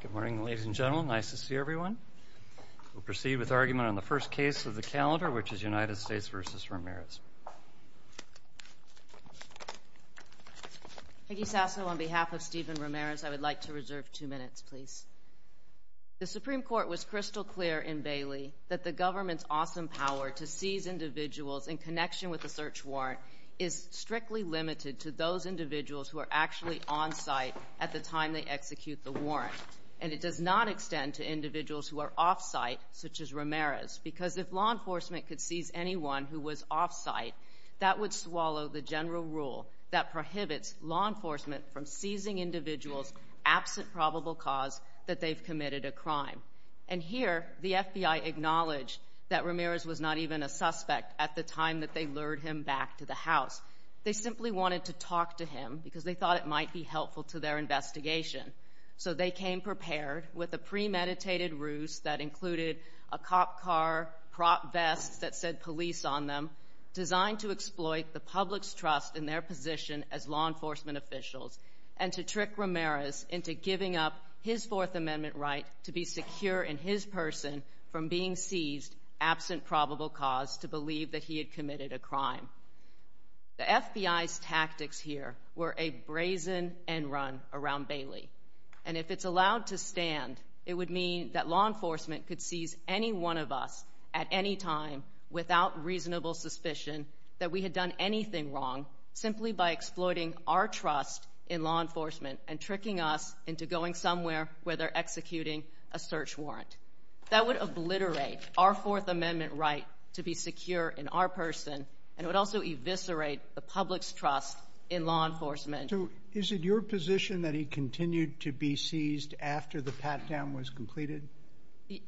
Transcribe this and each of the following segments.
Good morning ladies and gentlemen, nice to see everyone. We'll proceed with argument on the first case of the calendar, which is United States v. Ramirez. Peggy Sasso, on behalf of Stefan Ramirez, I would like to reserve two minutes, please. The Supreme Court was crystal clear in Bailey that the government's awesome power to seize individuals in connection with a search warrant is strictly limited to those individuals who are actually on-site at the time they execute the warrant. And it does not extend to individuals who are off-site, such as Ramirez, because if law enforcement could seize anyone who was off-site, that would swallow the general rule that prohibits law enforcement from seizing individuals absent probable cause that they've committed a crime. And here, the FBI acknowledged that Ramirez was not even a suspect at the time that they lured him back to the House. They simply wanted to talk to him because they thought it might be helpful to their investigation. So they came prepared with a premeditated ruse that included a cop car, prop vests that said police on them, designed to exploit the public's trust in their position as law enforcement officials and to trick Ramirez into giving up his Fourth Amendment right to be secure in his person from being seized absent probable cause to believe that he had committed a crime. The FBI's tactics here were a brazen end run around Bailey. And if it's allowed to stand, it would mean that law enforcement could seize any one of us at any time without reasonable suspicion that we had done anything wrong simply by exploiting our trust in law enforcement and tricking us into going somewhere where they're executing a search warrant. That would obliterate our Fourth Amendment right to be secure in our person, and it would also eviscerate the public's trust in law enforcement. So is it your position that he continued to be seized after the pat-down was completed?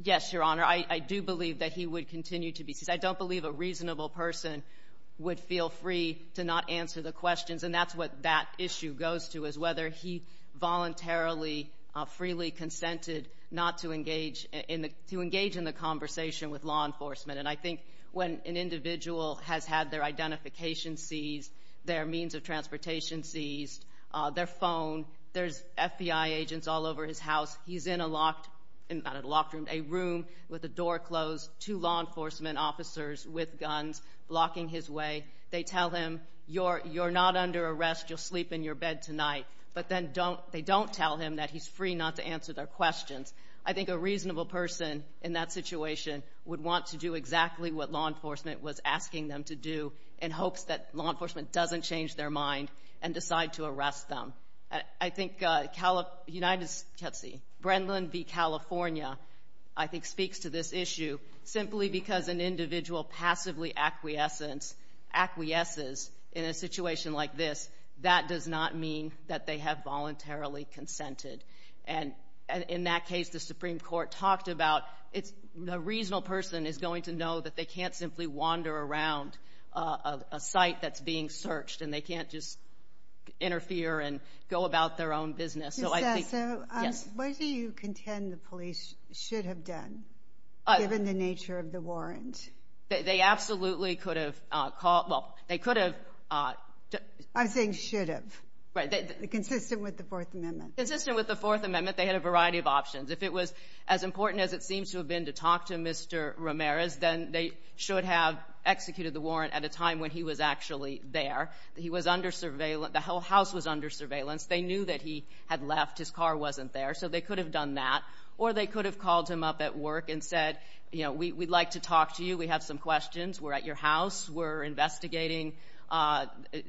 Yes, Your Honor. I do believe that he would continue to be seized. I don't believe a reasonable person would feel free to not answer the questions. And that's what that to engage in the conversation with law enforcement. And I think when an individual has had their identification seized, their means of transportation seized, their phone, there's FBI agents all over his house. He's in a locked, not a locked room, a room with a door closed, two law enforcement officers with guns blocking his way. They tell him, You're not under arrest. You'll sleep in your bed tonight. But then they don't tell him that he's free not to answer their questions. I think a reasonable person in that situation would want to do exactly what law enforcement was asking them to do in hopes that law enforcement doesn't change their mind and decide to arrest them. I think United States, let's see, Brendan v. California, I think speaks to this issue simply because an individual passively acquiesces in a situation like this, that does not mean that they have voluntarily consented. And in that case, the Supreme Court talked about it's a reasonable person is going to know that they can't simply wander around a site that's being searched and they can't just interfere and go about their own business. So why do you contend the police should have done given the nature of the warrant? They absolutely could have. I'm saying should have. Consistent with the Fourth Amendment. Consistent with the Fourth Amendment, they had a variety of options. If it was as important as it seems to have been to talk to Mr. Ramirez, then they should have executed the warrant at a time when he was actually there. The house was under surveillance. They knew that he had left. His car wasn't there. So they could have done that. Or they could have called him up at work and said, we'd like to talk to you. We have some questions. We're at your house. We're investigating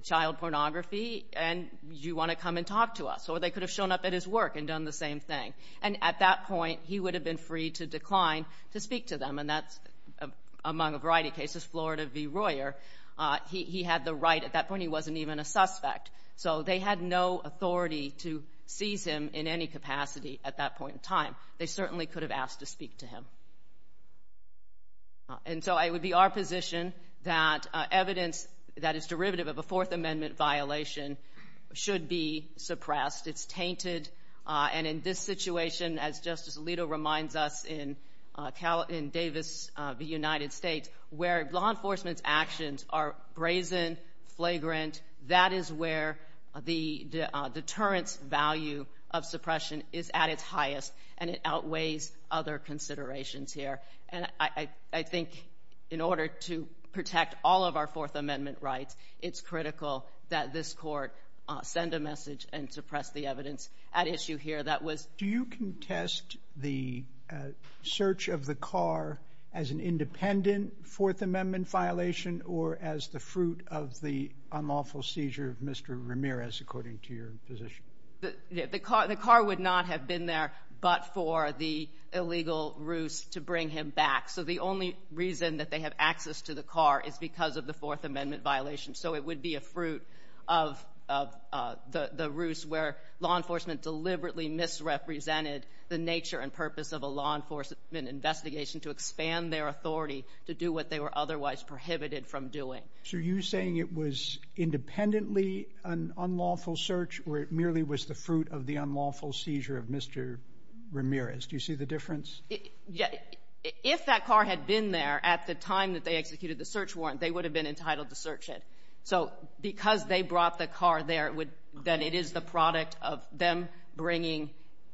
child pornography and you want to come and talk to us. Or they could have shown up at his work and done the same thing. And at that point, he would have been free to decline to speak to them. And that's among a variety of cases. Florida v. Royer, he had the right. At that point, he wasn't even a suspect. So they had no authority to seize him in any capacity at that point in time. They certainly could have asked to speak to him. And so it would be our position that evidence that is derivative of a Fourth Amendment violation should be suppressed. It's tainted. And in this situation, as Justice Alito reminds us in Davis v. United States, where law enforcement's actions are brazen, flagrant, that is where the deterrence value of suppression is at its highest. And it outweighs other considerations here. And I think in order to protect all of our Fourth Amendment rights, it's critical that this court send a message and suppress the evidence at issue here. Do you contest the search of the car as an independent Fourth Amendment violation or as the fruit of the unlawful seizure of Mr. Ramirez, according to your position? The car would not have been there but for the illegal ruse to bring him back. So the only reason that they have access to the car is because of the Fourth Amendment violation. So it would be a fruit of the ruse where law enforcement deliberately misrepresented the nature and purpose of a law enforcement investigation to expand their authority to do what they were otherwise prohibited from doing. So are you saying it was independently an unlawful search or it merely was the fruit of the If that car had been there at the time that they executed the search warrant, they would have been entitled to search it. So because they brought the car there, then it is the product of them bringing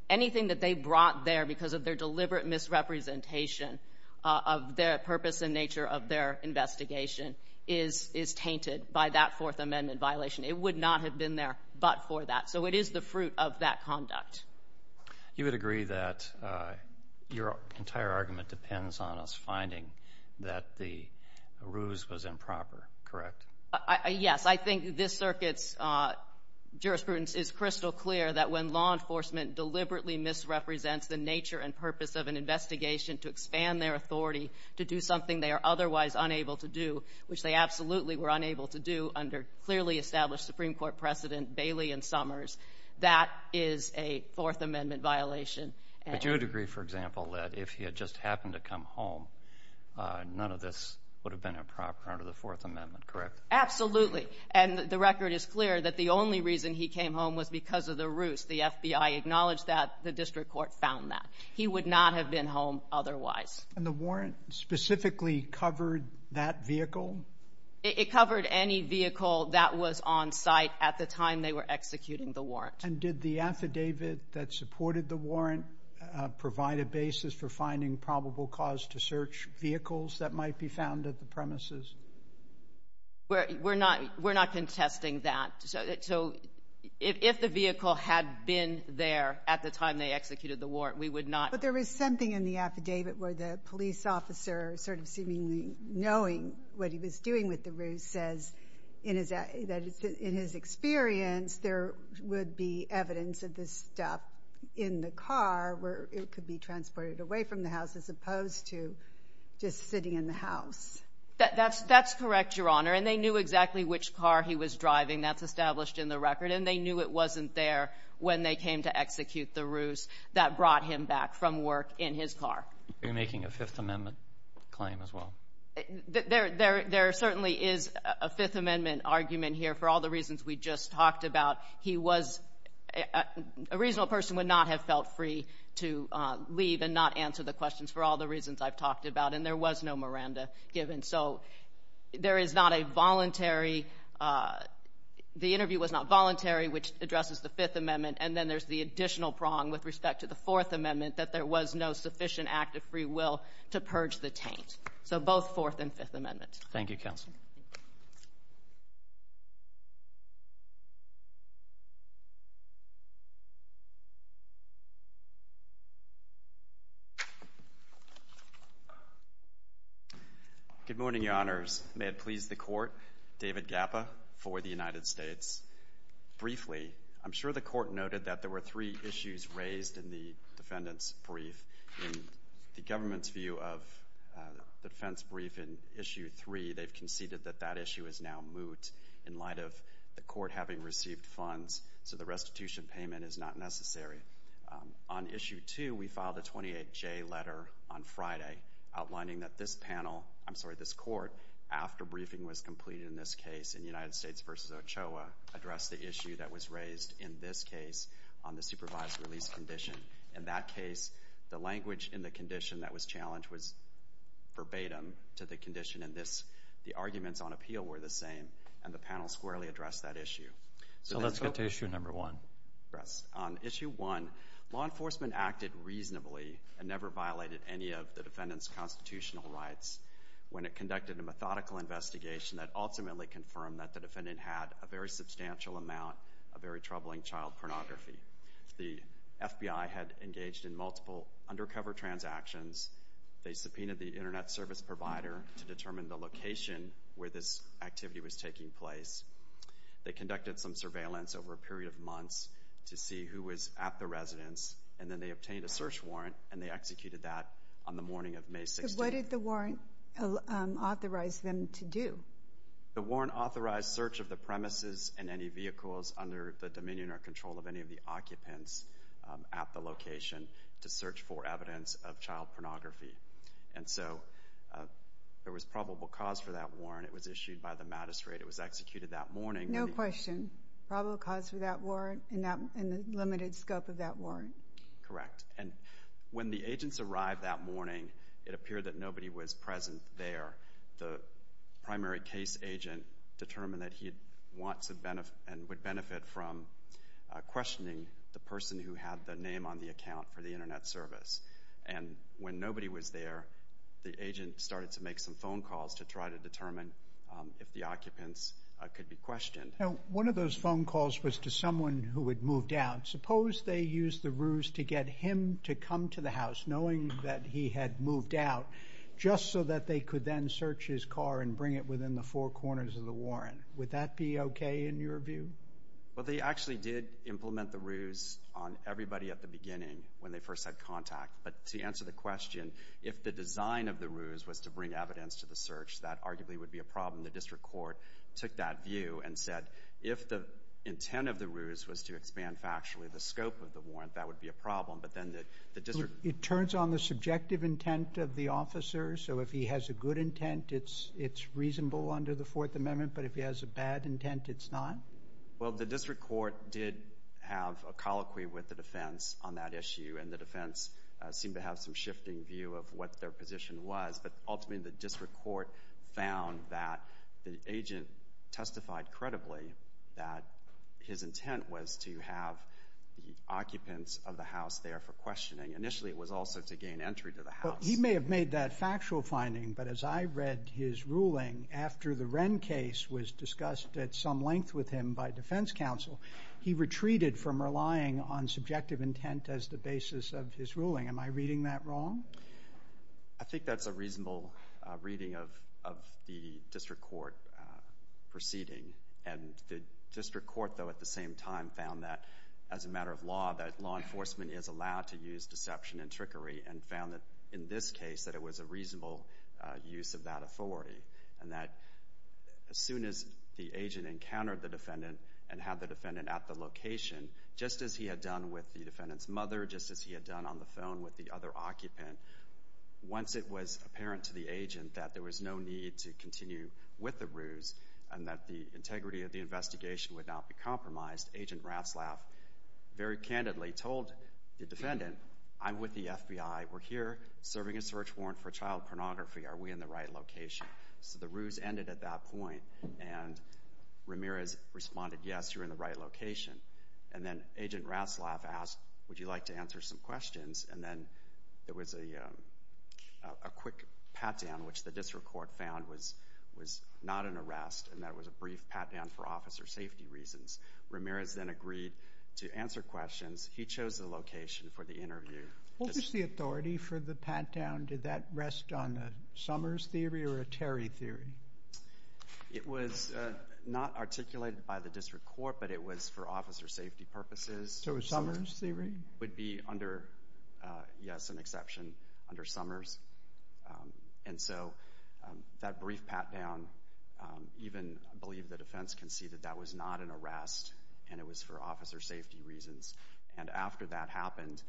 anything that they brought there because of their deliberate misrepresentation of their purpose and nature of their investigation is tainted by that Fourth Amendment violation. It would not have been there but for that. So it is the fruit of that conduct. You would agree that your entire argument depends on us finding that the ruse was improper, correct? Yes. I think this circuit's jurisprudence is crystal clear that when law enforcement deliberately misrepresents the nature and purpose of an investigation to expand their authority to do something they are otherwise unable to do, which they absolutely were unable to do under clearly established Supreme Court precedent, Bailey and Summers, that is a Fourth Amendment violation. But you would agree, for example, that if he had just happened to come home, none of this would have been improper under the Fourth Amendment, correct? Absolutely. And the record is clear that the only reason he came home was because of the ruse. The FBI acknowledged that. The district court found that. He would not have been home otherwise. And the warrant specifically covered that vehicle? It covered any vehicle that was on site at the time they were executing the warrant. And did the affidavit that supported the warrant provide a basis for finding probable cause to search vehicles that might be found at the premises? We're not contesting that. So if the vehicle had been there at the time they executed the warrant, we would not. But there was something in the affidavit where the police officer, sort of seemingly knowing what he was doing with the ruse, says that in his experience there would be evidence of this stuff in the car where it could be transported away from the house as opposed to just sitting in the house. That's correct, Your Honor. And they knew exactly which car he was driving. That's established in the record. And they knew it wasn't there when they came to execute the ruse that brought him back from work in his car. You're making a Fifth Amendment claim as well? There certainly is a Fifth Amendment argument here. For all the reasons we just talked about, he was — a reasonable person would not have felt free to leave and not answer the questions for all the reasons I've talked about. And there was no Miranda given. So there is not a voluntary — the interview was not voluntary, which addresses the Fifth Amendment. And then there's the additional prong with respect to the Fourth Amendment, that there was no sufficient act of free will to purge the taint. So both Fourth and Fifth Amendments. Thank you, Counsel. Good morning, Your Honors. May it please the Court, David Gappa for the United States. Briefly, I'm sure the Court noted that there were three issues raised in the defendant's brief. In the government's view of the defense brief in Issue 3, they've conceded that that issue is now moot in light of the Court having received funds, so the restitution payment is not necessary. On Issue 2, we filed a 28-J letter on Friday outlining that this panel — I'm sorry, this Court, after briefing was completed in this case in United States v. Ochoa, addressed the issue that was raised in this case on the supervised release condition. In that case, the language in the condition that was challenged was verbatim to the condition in this. The arguments on appeal were the same, and the panel squarely addressed that issue. So let's get to Issue 1. On Issue 1, law enforcement acted reasonably and never violated any of the defendant's constitutional rights when it conducted a methodical investigation that ultimately confirmed that the defendant had a very substantial amount of very troubling child pornography. The FBI had engaged in multiple undercover transactions. They subpoenaed the Internet service provider to determine the location where this activity was taking place. They conducted some surveillance over a period of months to see who was at the residence, and then they obtained a search warrant, and they executed that on the morning of May 16. So what did the warrant authorize them to do? The warrant authorized search of the premises and any to search for evidence of child pornography. And so there was probable cause for that warrant. It was issued by the magistrate. It was executed that morning. No question. Probable cause for that warrant and the limited scope of that warrant? Correct. And when the agents arrived that morning, it appeared that nobody was present there. The primary case agent determined that he would benefit from questioning the person who had the name on the account for the Internet service. And when nobody was there, the agent started to make some phone calls to try to determine if the occupants could be questioned. Now, one of those phone calls was to someone who had moved out. Suppose they used the ruse to get him to come to the house, knowing that he had moved out, just so that they could then search his car and bring it within the four corners of the warrant. Would that be okay in your view? Well, they actually did implement the ruse on everybody at the beginning when they first had contact. But to answer the question, if the design of the ruse was to bring evidence to the search, that arguably would be a problem. The district court took that view and said, if the intent of the ruse was to expand factually the scope of the warrant, that would be a problem. But then the district It turns on the subjective intent of the officer. So if he has a good intent, it's reasonable under the Fourth Amendment. But if he has a bad intent, it's not? Well, the district court did have a colloquy with the defense on that issue. And the defense seemed to have some shifting view of what their position was. But ultimately, the district court found that the agent testified credibly that his He may have made that factual finding. But as I read his ruling, after the Wren case was discussed at some length with him by defense counsel, he retreated from relying on subjective intent as the basis of his ruling. Am I reading that wrong? I think that's a reasonable reading of the district court proceeding. And the district court, though, at the same time, found that, as a matter of law, that law enforcement is allowed to use deception and trickery and found that, in this case, that it was a reasonable use of that authority. And that as soon as the agent encountered the defendant and had the defendant at the location, just as he had done with the defendant's mother, just as he had done on the phone with the other occupant, once it was apparent to the agent that there was no need to continue with the ruse and that the integrity of the investigation would not be compromised, Agent Ratzlaff very candidly told the defendant, I'm with the FBI. We're here serving a search warrant for child pornography. Are we in the right location? So the ruse ended at that point, and Ramirez responded, yes, you're in the right location. And then Agent Ratzlaff asked, would you like to answer some questions? And then there was a quick pat-down, which the district court found was not an arrest, and that was a brief pat-down for officer safety reasons. Ramirez then agreed to answer questions. He chose the location for the interview. What was the authority for the pat-down? Did that rest on the Summers theory or a Terry theory? It was not articulated by the district court, but it was for officer safety purposes. So it was Summers theory? Yes, an exception under Summers. And so that brief pat-down, even I believe the defense conceded that was not an arrest, and it was for officer safety reasons. And after that happened,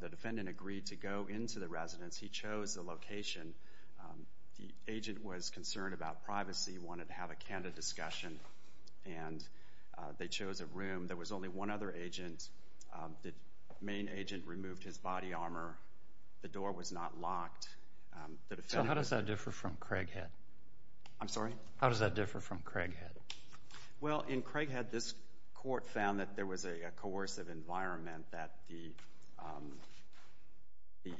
the defendant agreed to go into the residence. He chose the location. The agent was concerned about privacy, wanted to have a candid discussion, and they chose a room. There was only one other agent. The main agent removed his body armor. The door was not locked. So how does that differ from Craighead? I'm sorry? How does that differ from Craighead? Well, in Craighead, this court found that there was a coercive environment, that the there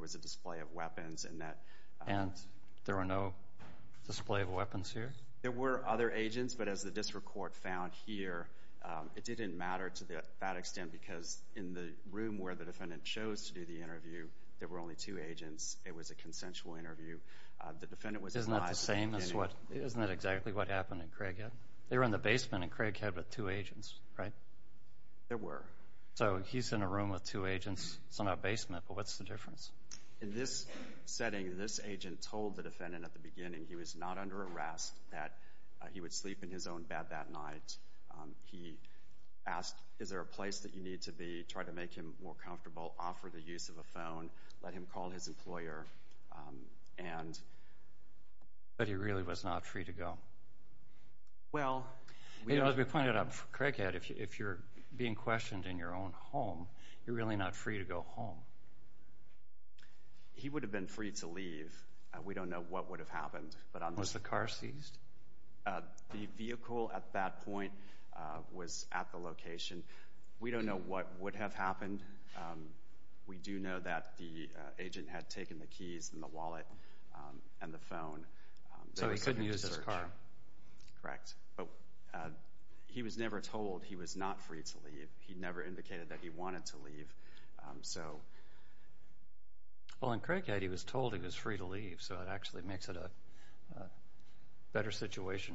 was a display of weapons. And there were no display of weapons here? There were other agents, but as the district court found here, it didn't matter to that extent because in the room where the defendant chose to do the interview, there were only two agents. It was a consensual interview. Isn't that the same as what happened in Craighead? They were in the basement in Craighead with two agents, right? There were. So he's in a room with two agents. It's in a basement, but what's the difference? In this setting, this agent told the defendant at the beginning he was not under arrest, that he would sleep in his own bed that night. He asked, is there a place that you need to be, try to make him more comfortable, offer the use of a phone, let him call his employer. But he really was not free to go. As we pointed out, Craighead, if you're being questioned in your own home, you're really not free to go home. He would have been free to leave. We don't know what would have happened. Was the car seized? The vehicle at that point was at the location. We don't know what would have happened. We do know that the victim used his car. Correct. But he was never told he was not free to leave. He never indicated that he wanted to leave. Well, in Craighead, he was told he was free to leave, so that actually makes it a better situation,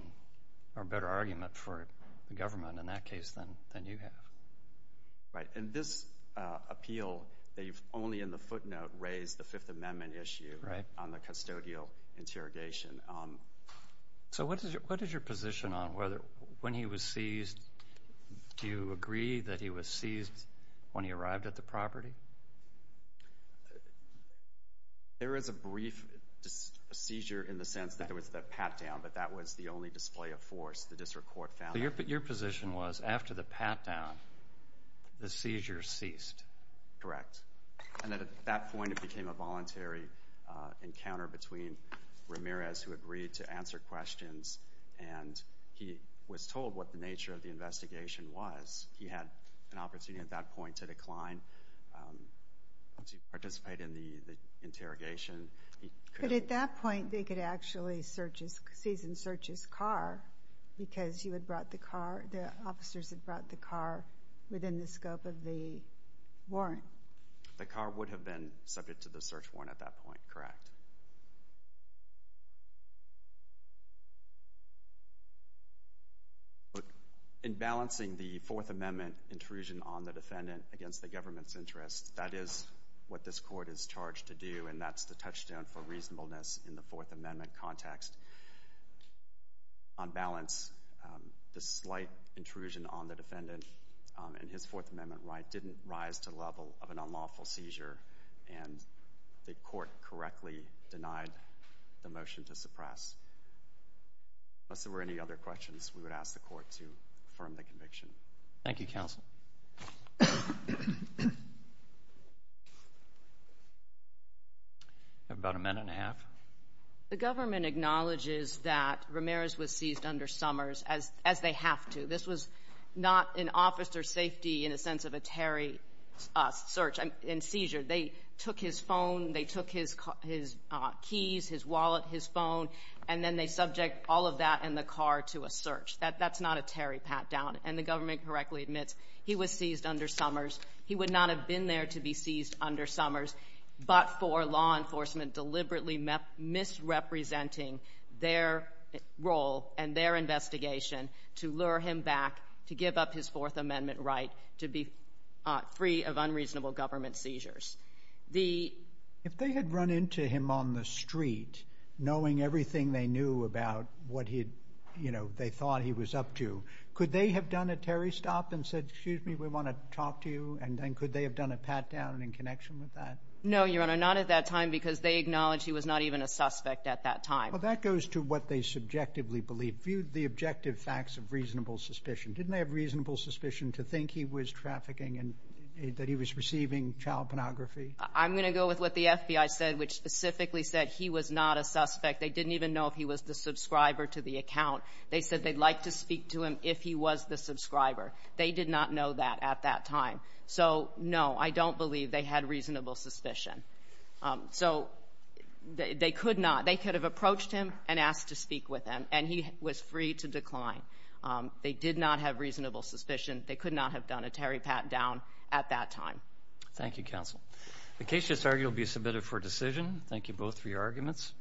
or a better argument for the government in that case than you have. Right. And this appeal, they've only in the footnote raised the Fifth Amendment issue on the custodial interrogation. So what is your position on whether when he was seized, do you agree that he was seized when he arrived at the property? There is a brief seizure in the sense that there was the pat-down, but that was the only display of force the district court found. So your position was after the pat-down, the seizure ceased. Correct. And at that point, it became a voluntary encounter between Ramirez, who agreed to answer questions, and he was told what the nature of the investigation was. He had an opportunity at that point to decline, to participate in the interrogation. But at that point, they could actually seize and search his car because the officers had brought the car within the scope of the warrant. The car would have been subject to the search warrant at that point, correct? In balancing the Fourth Amendment intrusion on the defendant against the government's interests, that is what this court is charged to do, and that's the balance, the slight intrusion on the defendant in his Fourth Amendment right didn't rise to the level of an unlawful seizure, and the court correctly denied the motion to suppress. Unless there were any other questions, we would ask the court to affirm the conviction. Thank you, Counsel. About a minute and a half. The government acknowledges that Ramirez was seized under Summers, as they have to. This was not an officer's safety in a sense of a Terry search and seizure. They took his phone, they took his keys, his wallet, his phone, and then they subject all of that and the car to a search. That's not a Terry pat-down. And the government correctly admits he was seized under Summers. He would not have been there to be seized under Summers, but for law enforcement deliberately misrepresenting their role and their investigation to lure him back to give up his Fourth Amendment right to be free of unreasonable government seizures. If they had run into him on the street knowing everything they knew about what they thought he was up to, could they have done a Terry stop and said, excuse me, we want to talk to you? And then could they have done a pat-down in connection with that? No, Your Honor, not at that time because they acknowledge he was not even a suspect at that time. Well, that goes to what they subjectively believe. View the objective facts of reasonable suspicion. Didn't they have reasonable suspicion to think he was trafficking and that he was receiving child pornography? I'm going to go with what the FBI said, which specifically said he was not a suspect. They didn't even know if he was the subscriber to the account. They said they'd like to speak to him if he was the subscriber. They did not know that at that time. So, no, I don't believe they had reasonable suspicion. So they could not. They could have approached him and asked to speak with him, and he was free to decline. They did not have reasonable Thank you, counsel. The case is argued to be submitted for decision. Thank you both for your arguments.